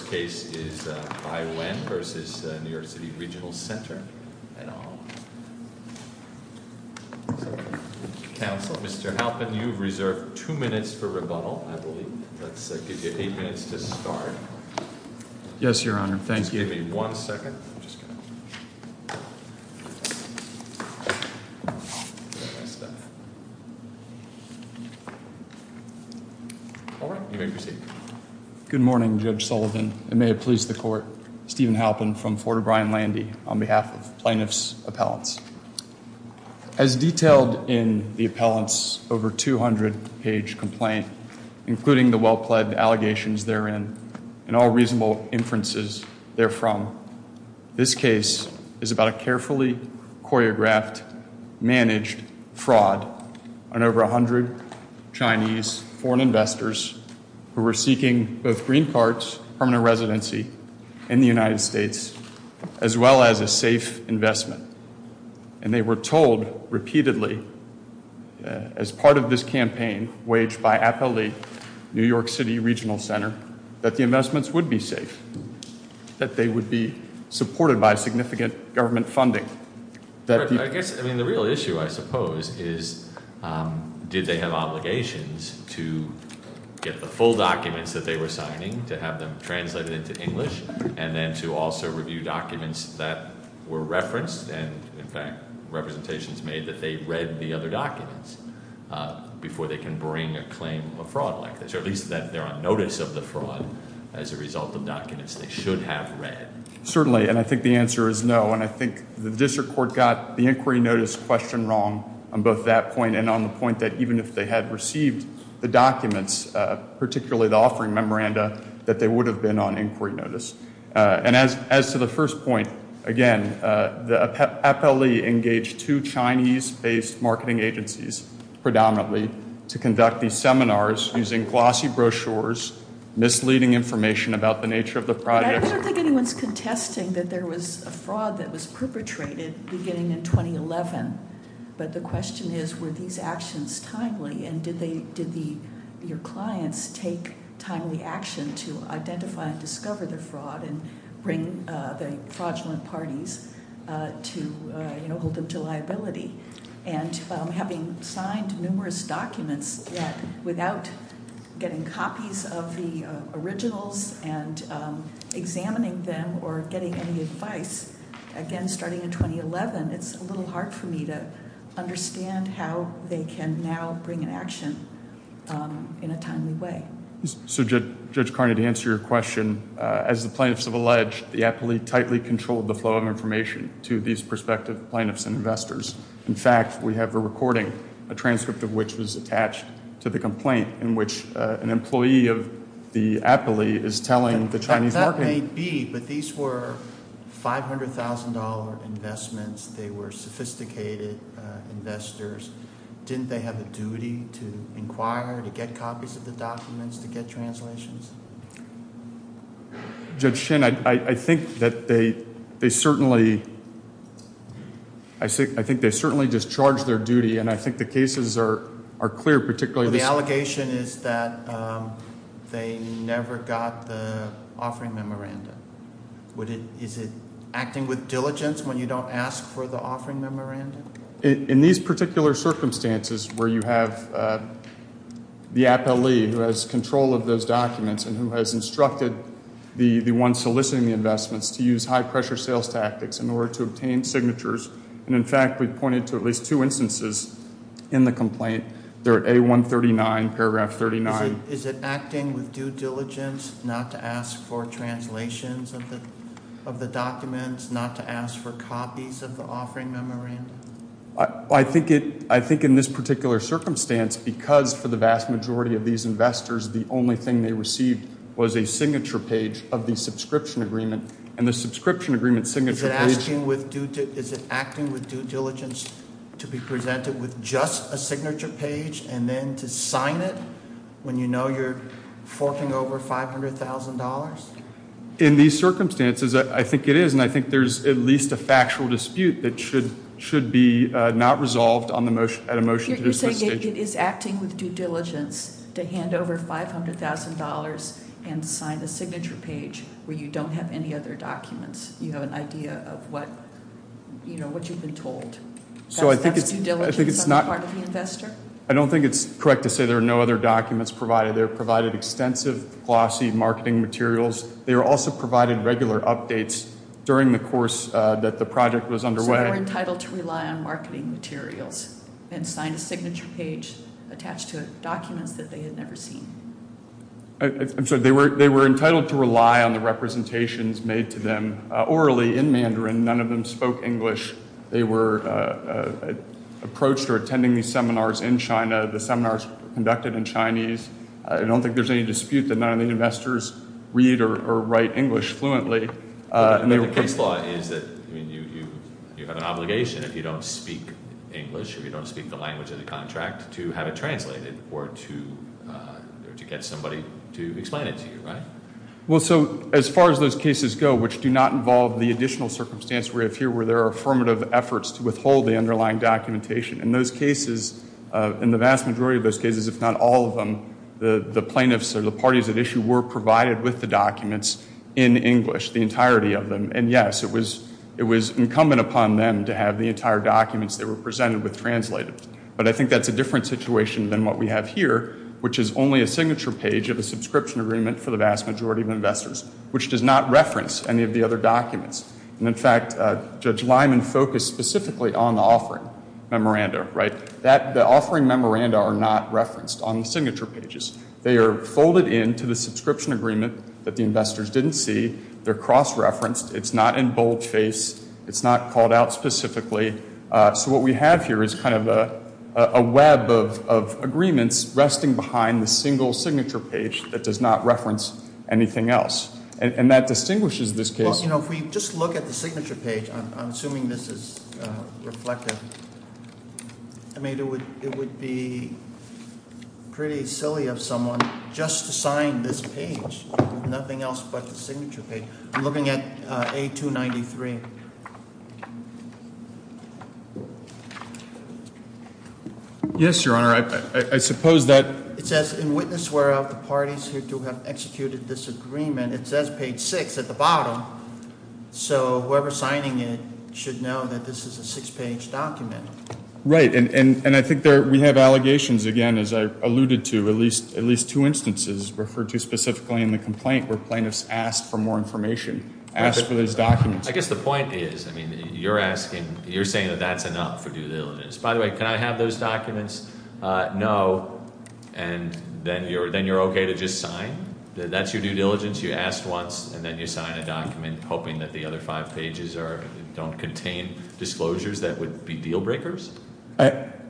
First case is Ai-Wen v. New York City Regional Center, LLC Counsel, Mr. Halpin, you have reserved two minutes for rebuttal, I believe. Let's give you eight minutes to start. Yes, Your Honor. Thank you. Just give me one second. All right. You may proceed. Good morning, Judge Sullivan, and may it please the court, Stephen Halpin from Fort O'Brien-Landy on behalf of plaintiff's appellants. As detailed in the appellant's over 200-page complaint, including the well-pledged allegations therein, and all reasonable inferences therefrom, this case is about a carefully choreographed, managed fraud on over 100 Chinese foreign investors who were seeking both green cards, permanent residency in the United States, as well as a safe investment. And they were told repeatedly, as part of this campaign waged by Appellate New York City Regional Center, that the investments would be safe, that they would be supported by significant government funding. I guess, I mean, the real issue, I suppose, is did they have obligations to get the full documents that they were signing, to have them translated into English, and then to also review documents that were referenced, and, in fact, representations made that they read the other documents before they can bring a claim of fraud like this, or at least that they're on notice of the fraud as a result of documents they should have read. Certainly, and I think the answer is no, and I think the district court got the inquiry notice question wrong on both that point and on the point that, even if they had received the documents, particularly the offering memoranda, that they would have been on inquiry notice. And as to the first point, again, the appellee engaged two Chinese-based marketing agencies, predominantly, to conduct these seminars using glossy brochures, misleading information about the nature of the project. I don't think anyone's contesting that there was a fraud that was perpetrated beginning in 2011, but the question is, were these actions timely, and did your clients take timely action to identify and discover the fraud and bring the fraudulent parties to hold them to liability? And having signed numerous documents that, without getting copies of the originals and examining them or getting any advice, again, starting in 2011, it's a little hard for me to understand how they can now bring an action in a timely way. So, Judge Carney, to answer your question, as the plaintiffs have alleged, the appellee tightly controlled the flow of information to these prospective plaintiffs and investors. In fact, we have a recording, a transcript of which was attached to the complaint, in which an employee of the appellee is telling the Chinese marketing- It may be, but these were $500,000 investments. They were sophisticated investors. Didn't they have a duty to inquire, to get copies of the documents, to get translations? Judge Shin, I think that they certainly discharged their duty, and I think the cases are clear, particularly this one. The allegation is that they never got the offering memorandum. Is it acting with diligence when you don't ask for the offering memorandum? In these particular circumstances where you have the appellee who has control of those documents and who has instructed the one soliciting the investments to use high-pressure sales tactics in order to obtain signatures, and in fact, we've pointed to at least two instances in the complaint. They're at A139, paragraph 39. Is it acting with due diligence not to ask for translations of the documents, not to ask for copies of the offering memorandum? I think in this particular circumstance, because for the vast majority of these investors, the only thing they received was a signature page of the subscription agreement, and the subscription agreement's signature page- is it acting with due diligence to be presented with just a signature page and then to sign it when you know you're forking over $500,000? In these circumstances, I think it is, and I think there's at least a factual dispute that should be not resolved at a motion to this stage. You're saying it is acting with due diligence to hand over $500,000 and sign the signature page where you don't have any other documents. You have an idea of what you've been told. That's due diligence on the part of the investor? I don't think it's correct to say there are no other documents provided. They were provided extensive, glossy marketing materials. They were also provided regular updates during the course that the project was underway. So they were entitled to rely on marketing materials and sign a signature page attached to documents that they had never seen? I'm sorry. They were entitled to rely on the representations made to them orally in Mandarin. None of them spoke English. They were approached or attending these seminars in China. The seminars were conducted in Chinese. I don't think there's any dispute that none of the investors read or write English fluently. The case law is that you have an obligation if you don't speak English or you don't speak the language of the contract to have it translated or to get somebody to explain it to you, right? Well, so as far as those cases go, which do not involve the additional circumstance we have here where there are affirmative efforts to withhold the underlying documentation, in those cases, in the vast majority of those cases, if not all of them, the plaintiffs or the parties at issue were provided with the documents in English, the entirety of them. And, yes, it was incumbent upon them to have the entire documents they were presented with translated. But I think that's a different situation than what we have here, which is only a signature page of a subscription agreement for the vast majority of investors, which does not reference any of the other documents. And, in fact, Judge Lyman focused specifically on the offering memoranda, right? The offering memoranda are not referenced on the signature pages. They are folded into the subscription agreement that the investors didn't see. They're cross-referenced. It's not in boldface. It's not called out specifically. So what we have here is kind of a web of agreements resting behind the single signature page that does not reference anything else. And that distinguishes this case. Well, you know, if we just look at the signature page, I'm assuming this is reflective. I mean, it would be pretty silly of someone just to sign this page with nothing else but the signature page. I'm looking at A293. Yes, Your Honor. I suppose that. It says in witness whereof the parties here to have executed this agreement. It says page 6 at the bottom. So whoever's signing it should know that this is a six-page document. Right. And I think we have allegations, again, as I alluded to, at least two instances referred to specifically in the complaint where plaintiffs asked for more information, asked for those documents. I guess the point is, I mean, you're asking, you're saying that that's enough for due diligence. By the way, can I have those documents? No. And then you're okay to just sign? That's your due diligence? You asked once, and then you sign a document hoping that the other five pages don't contain disclosures that would be deal breakers?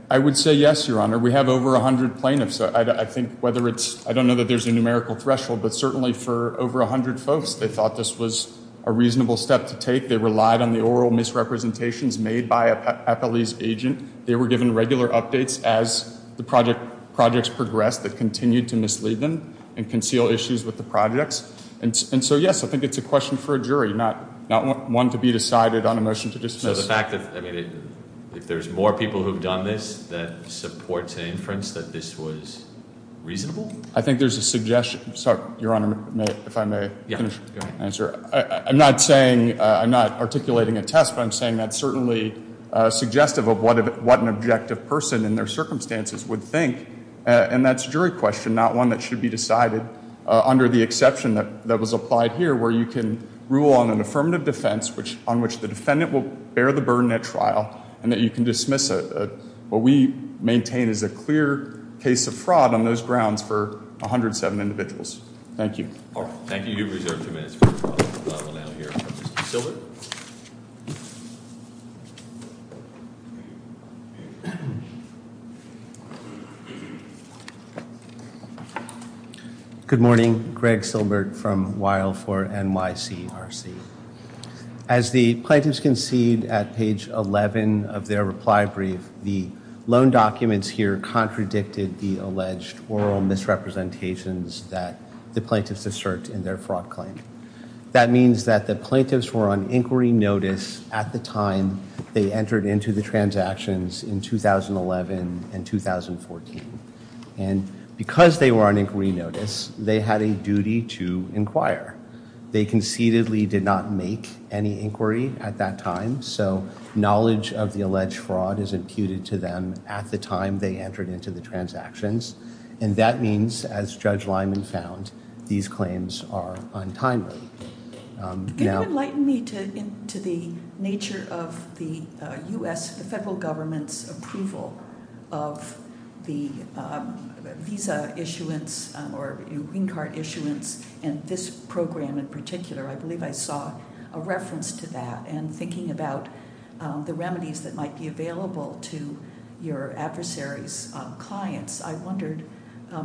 I would say yes, Your Honor. We have over 100 plaintiffs. I think whether it's, I don't know that there's a numerical threshold, but certainly for over 100 folks, they thought this was a reasonable step to take. They relied on the oral misrepresentations made by a police agent. They were given regular updates as the projects progressed that continued to mislead them and conceal issues with the projects. And so, yes, I think it's a question for a jury, not one to be decided on a motion to dismiss. So the fact that, I mean, if there's more people who have done this that support an inference that this was reasonable? I think there's a suggestion. Sorry, Your Honor, if I may finish. Go ahead. I'm not saying, I'm not articulating a test, but I'm saying that's certainly suggestive of what an objective person in their circumstances would think, and that's a jury question, not one that should be decided under the exception that was applied here, where you can rule on an affirmative defense on which the defendant will bear the burden at trial, and that you can dismiss what we maintain is a clear case of fraud on those grounds for 107 individuals. Thank you. All right, thank you. You have reserved two minutes for rebuttal. We'll now hear from Mr. Silbert. Good morning. Greg Silbert from Weill for NYCRC. As the plaintiffs concede at page 11 of their reply brief, the loan documents here contradicted the alleged oral misrepresentations that the plaintiffs assert in their fraud claim. That means that the plaintiffs were on inquiry notice at the time they entered into the transactions in 2011 and 2014, and because they were on inquiry notice, they had a duty to inquire. They concededly did not make any inquiry at that time, so knowledge of the alleged fraud is imputed to them at the time they entered into the transactions, and that means, as Judge Lyman found, these claims are untimely. Can you enlighten me to the nature of the U.S., the federal government's approval of the visa issuance or green card issuance in this program in particular? I believe I saw a reference to that, and thinking about the remedies that might be available to your adversaries' clients, I wondered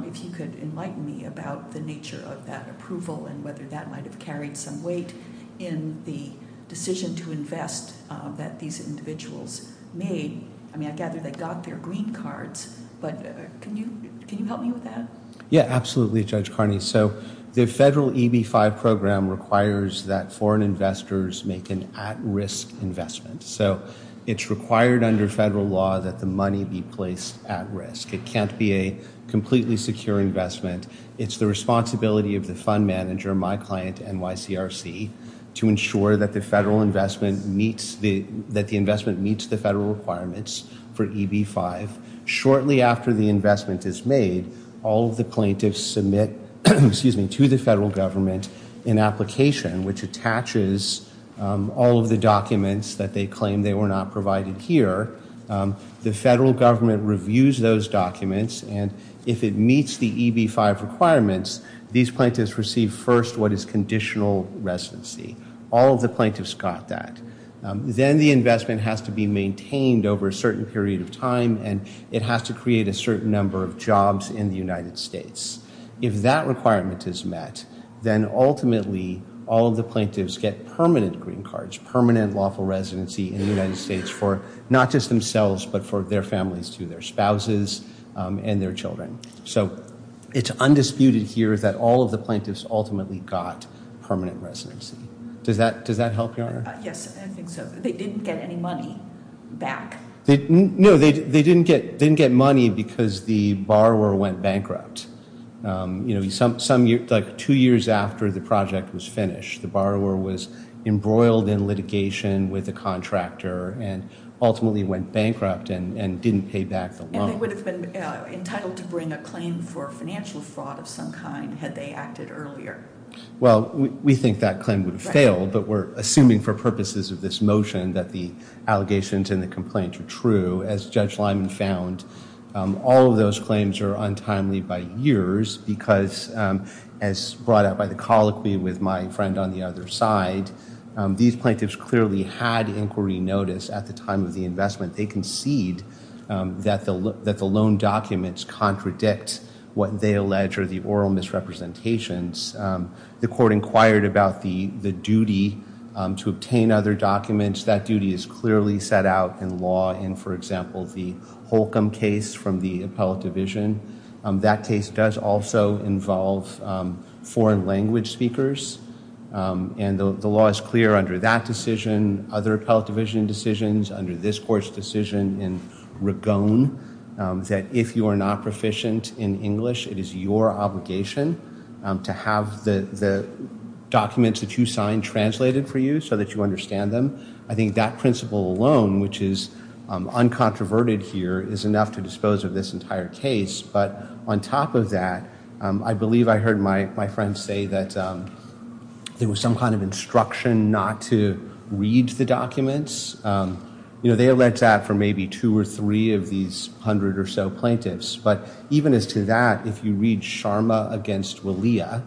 if you could enlighten me about the nature of that approval and whether that might have carried some weight in the decision to invest that these individuals made. I mean, I gather they got their green cards, but can you help me with that? Yeah, absolutely, Judge Carney. So the federal EB-5 program requires that foreign investors make an at-risk investment, so it's required under federal law that the money be placed at risk. It can't be a completely secure investment. It's the responsibility of the fund manager, my client, NYCRC, to ensure that the investment meets the federal requirements for EB-5. Shortly after the investment is made, all of the plaintiffs submit to the federal government an application which attaches all of the documents that they claim they were not provided here. The federal government reviews those documents, and if it meets the EB-5 requirements, these plaintiffs receive first what is conditional residency. All of the plaintiffs got that. Then the investment has to be maintained over a certain period of time, and it has to create a certain number of jobs in the United States. If that requirement is met, then ultimately all of the plaintiffs get permanent green cards, which is permanent lawful residency in the United States for not just themselves but for their families too, their spouses and their children. So it's undisputed here that all of the plaintiffs ultimately got permanent residency. Does that help, Your Honor? Yes, I think so. They didn't get any money back. No, they didn't get money because the borrower went bankrupt. You know, like two years after the project was finished, the borrower was embroiled in litigation with a contractor and ultimately went bankrupt and didn't pay back the loan. And they would have been entitled to bring a claim for financial fraud of some kind had they acted earlier. Well, we think that claim would have failed, but we're assuming for purposes of this motion that the allegations in the complaint are true. As Judge Lyman found, all of those claims are untimely by years because as brought up by the colloquy with my friend on the other side, these plaintiffs clearly had inquiry notice at the time of the investment. They concede that the loan documents contradict what they allege are the oral misrepresentations. The court inquired about the duty to obtain other documents. That duty is clearly set out in law in, for example, the Holcomb case from the appellate division. That case does also involve foreign language speakers, and the law is clear under that decision, other appellate division decisions, under this court's decision in Ragon that if you are not proficient in English, it is your obligation to have the documents that you sign translated for you so that you understand them. I think that principle alone, which is uncontroverted here, is enough to dispose of this entire case. But on top of that, I believe I heard my friend say that there was some kind of instruction not to read the documents. You know, they alleged that for maybe two or three of these hundred or so plaintiffs. But even as to that, if you read Sharma v. Willia,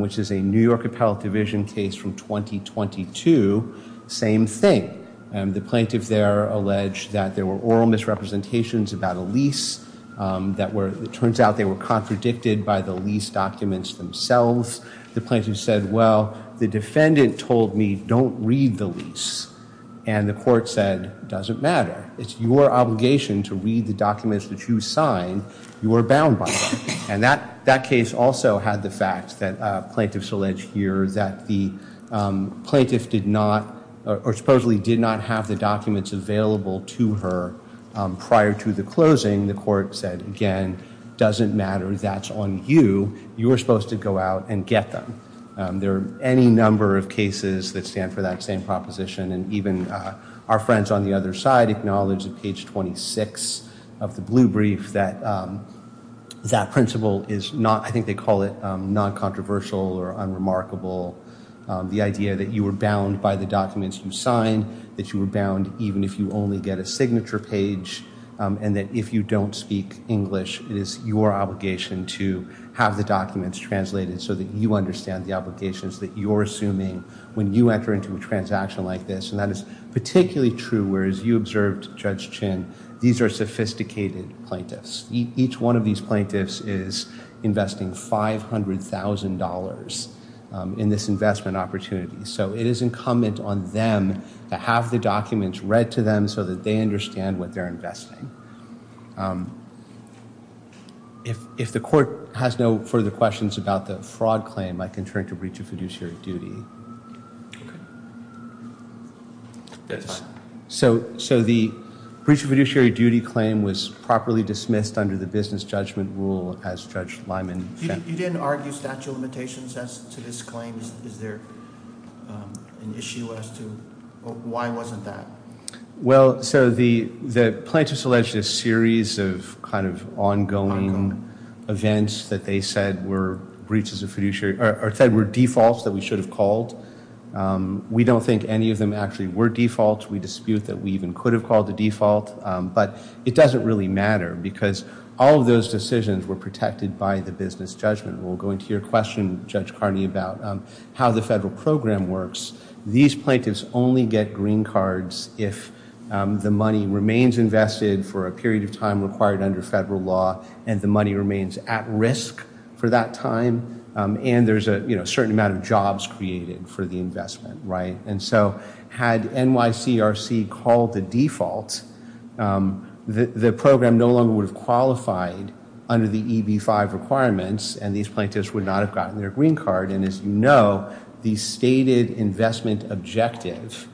which is a New York appellate division case from 2022, same thing. The plaintiff there alleged that there were oral misrepresentations about a lease. It turns out they were contradicted by the lease documents themselves. The plaintiff said, well, the defendant told me don't read the lease. And the court said, doesn't matter. It's your obligation to read the documents that you sign. You are bound by that. And that case also had the fact that plaintiffs alleged here that the plaintiff did not or supposedly did not have the documents available to her prior to the closing. The court said, again, doesn't matter. That's on you. You are supposed to go out and get them. There are any number of cases that stand for that same proposition. And even our friends on the other side acknowledged at page 26 of the blue brief that that principle is not, I think they call it non-controversial or unremarkable. The idea that you were bound by the documents you signed, that you were bound even if you only get a signature page, and that if you don't speak English, it is your obligation to have the documents translated so that you understand the obligations that you're assuming. When you enter into a transaction like this, and that is particularly true where, as you observed, Judge Chin, these are sophisticated plaintiffs. Each one of these plaintiffs is investing $500,000 in this investment opportunity. So it is incumbent on them to have the documents read to them so that they understand what they're investing. If the court has no further questions about the fraud claim, I can turn to breach of fiduciary duty. So the breach of fiduciary duty claim was properly dismissed under the business judgment rule as Judge Lyman said. You didn't argue statute of limitations as to this claim? Is there an issue as to why wasn't that? Well, so the plaintiffs alleged a series of kind of ongoing events that they said were defaults that we should have called. We don't think any of them actually were defaults. We dispute that we even could have called the default. But it doesn't really matter because all of those decisions were protected by the business judgment rule. Going to your question, Judge Carney, about how the federal program works, these plaintiffs only get green cards if the money remains invested for a period of time required under federal law and the money remains at risk for that time and there's a certain amount of jobs created for the investment. And so had NYCRC called the default, the program no longer would have qualified under the EB-5 requirements and these plaintiffs would not have gotten their green card. And as you know, the stated investment objective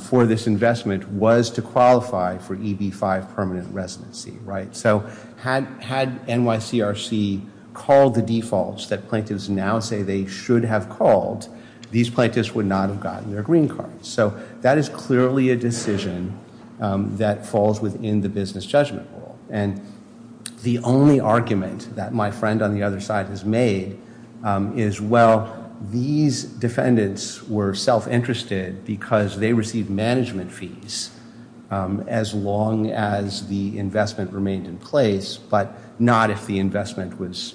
for this investment was to qualify for EB-5 permanent residency, right? So had NYCRC called the defaults that plaintiffs now say they should have called, these plaintiffs would not have gotten their green cards. So that is clearly a decision that falls within the business judgment rule. And the only argument that my friend on the other side has made is, well, these defendants were self-interested because they received management fees as long as the investment remained in place, but not if the investment was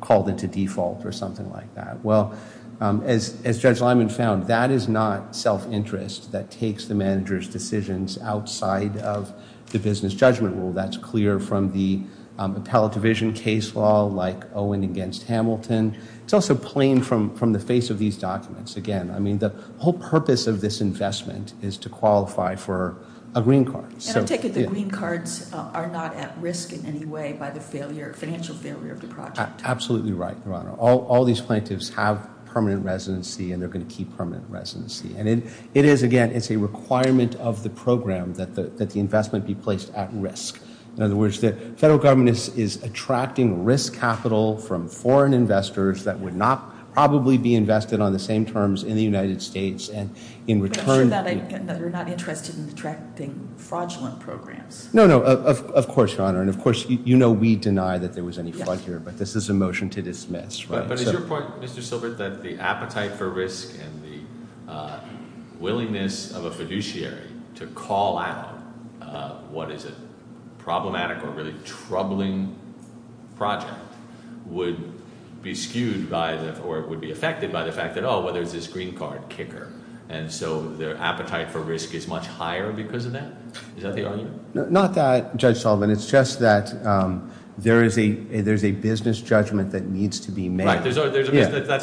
called into default or something like that. Well, as Judge Lyman found, that is not self-interest that takes the manager's decisions outside of the business judgment rule. That's clear from the appellate division case law like Owen against Hamilton. It's also plain from the face of these documents. Again, I mean the whole purpose of this investment is to qualify for a green card. And I take it the green cards are not at risk in any way by the financial failure of the project. Absolutely right, Your Honor. All these plaintiffs have permanent residency and they're going to keep permanent residency. And it is, again, it's a requirement of the program that the investment be placed at risk. In other words, the federal government is attracting risk capital from foreign investors that would not probably be invested on the same terms in the United States. But I'm sure that they're not interested in attracting fraudulent programs. No, no, of course, Your Honor. And of course, you know we deny that there was any fraud here. But this is a motion to dismiss. But is your point, Mr. Silver, that the appetite for risk and the willingness of a fiduciary to call out what is a problematic or really troubling project would be skewed by or would be affected by the fact that, well, there's this green card kicker. And so their appetite for risk is much higher because of that? Is that the argument? Not that, Judge Sullivan. It's just that there's a business judgment that needs to be made. Right, that's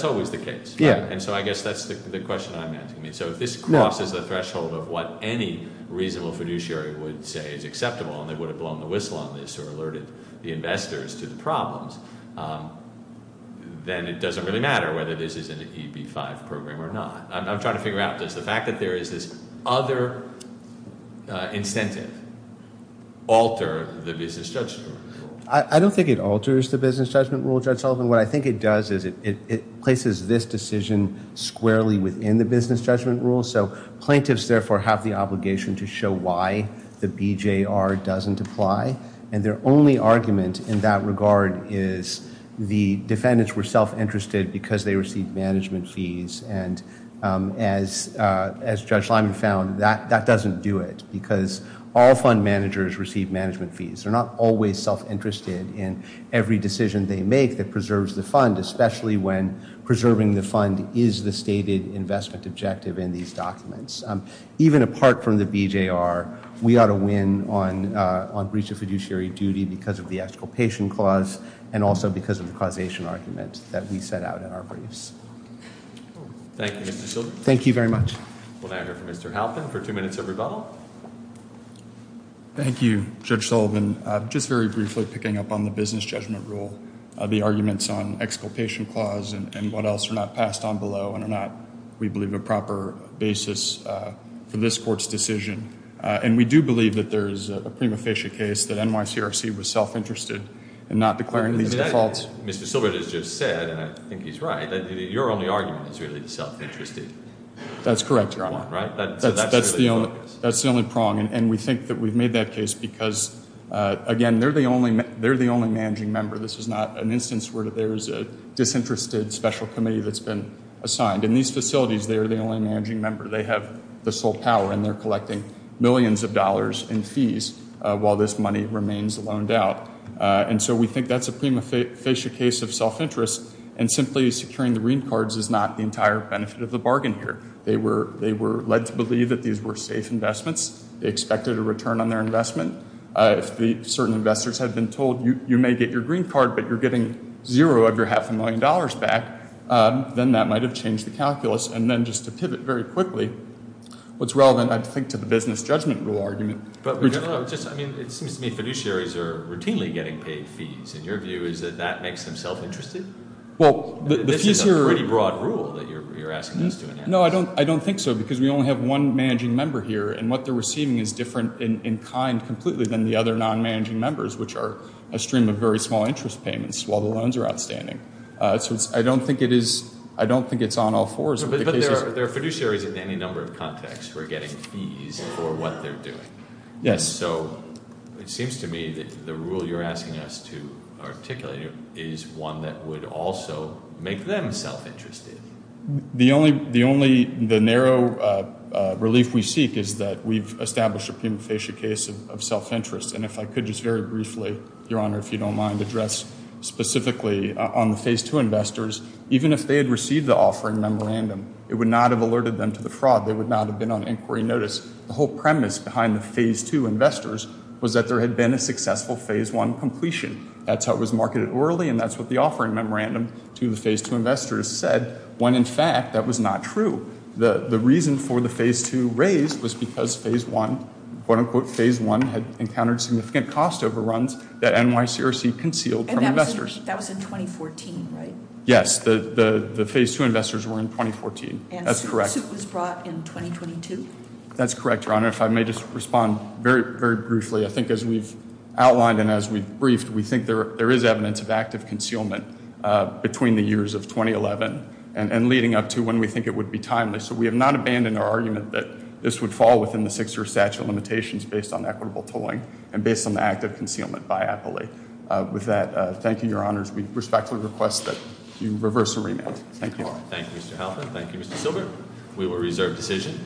always the case. And so I guess that's the question I'm asking. So if this crosses the threshold of what any reasonable fiduciary would say is acceptable, and they would have blown the whistle on this or alerted the investors to the problems, then it doesn't really matter whether this is an EB-5 program or not. I'm trying to figure out, does the fact that there is this other incentive alter the business judgment rule? I don't think it alters the business judgment rule, Judge Sullivan. What I think it does is it places this decision squarely within the business judgment rule. So plaintiffs, therefore, have the obligation to show why the BJR doesn't apply. And their only argument in that regard is the defendants were self-interested because they received management fees. And as Judge Lyman found, that doesn't do it because all fund managers receive management fees. They're not always self-interested in every decision they make that preserves the fund, especially when preserving the fund is the stated investment objective in these documents. Even apart from the BJR, we ought to win on breach of fiduciary duty because of the exculpation clause and also because of the causation argument that we set out in our briefs. Thank you, Mr. Sullivan. Thank you very much. We'll now hear from Mr. Halpin for two minutes of rebuttal. Thank you, Judge Sullivan. Just very briefly picking up on the business judgment rule, the arguments on exculpation clause and what else are not passed on below and are not, we believe, a proper basis for this court's decision. And we do believe that there is a prima facie case that NYCRC was self-interested in not declaring these defaults. Mr. Sullivan has just said, and I think he's right, that your only argument is really self-interested. That's correct, Your Honor. Right? That's the only prong. And we think that we've made that case because, again, they're the only managing member. This is not an instance where there is a disinterested special committee that's been assigned. In these facilities, they are the only managing member. They have the sole power, and they're collecting millions of dollars in fees while this money remains loaned out. And so we think that's a prima facie case of self-interest, and simply securing the green cards is not the entire benefit of the bargain here. They were led to believe that these were safe investments. They expected a return on their investment. If certain investors had been told, you may get your green card, but you're getting zero of your half a million dollars back, then that might have changed the calculus. And then just to pivot very quickly, what's relevant, I think, to the business judgment rule argument. It seems to me fiduciaries are routinely getting paid fees. And your view is that that makes them self-interested? This is a pretty broad rule that you're asking us to enact. No, I don't think so because we only have one managing member here, and what they're receiving is different in kind completely than the other non-managing members, which are a stream of very small interest payments while the loans are outstanding. I don't think it's on all fours. But there are fiduciaries in any number of contexts who are getting fees for what they're doing. Yes. So it seems to me that the rule you're asking us to articulate is one that would also make them self-interested. The only narrow relief we seek is that we've established a prima facie case of self-interest. And if I could just very briefly, Your Honor, if you don't mind, address specifically on the Phase 2 investors. Even if they had received the offering memorandum, it would not have alerted them to the fraud. They would not have been on inquiry notice. The whole premise behind the Phase 2 investors was that there had been a successful Phase 1 completion. That's how it was marketed orally, and that's what the offering memorandum to the Phase 2 investors said, when in fact that was not true. The reason for the Phase 2 raise was because Phase 1, quote-unquote Phase 1, had encountered significant cost overruns that NYCRC concealed from investors. And that was in 2014, right? Yes. The Phase 2 investors were in 2014. That's correct. And the suit was brought in 2022? That's correct, Your Honor. If I may just respond very briefly. I think as we've outlined and as we've briefed, we think there is evidence of active concealment between the years of 2011 and leading up to when we think it would be timely. So we have not abandoned our argument that this would fall within the six-year statute of limitations based on equitable tolling and based on the active concealment by Appley. With that, thank you, Your Honors. We respectfully request that you reverse the remand. Thank you. Thank you, Mr. Halpern. Thank you, Mr. Silver. We will reserve decision.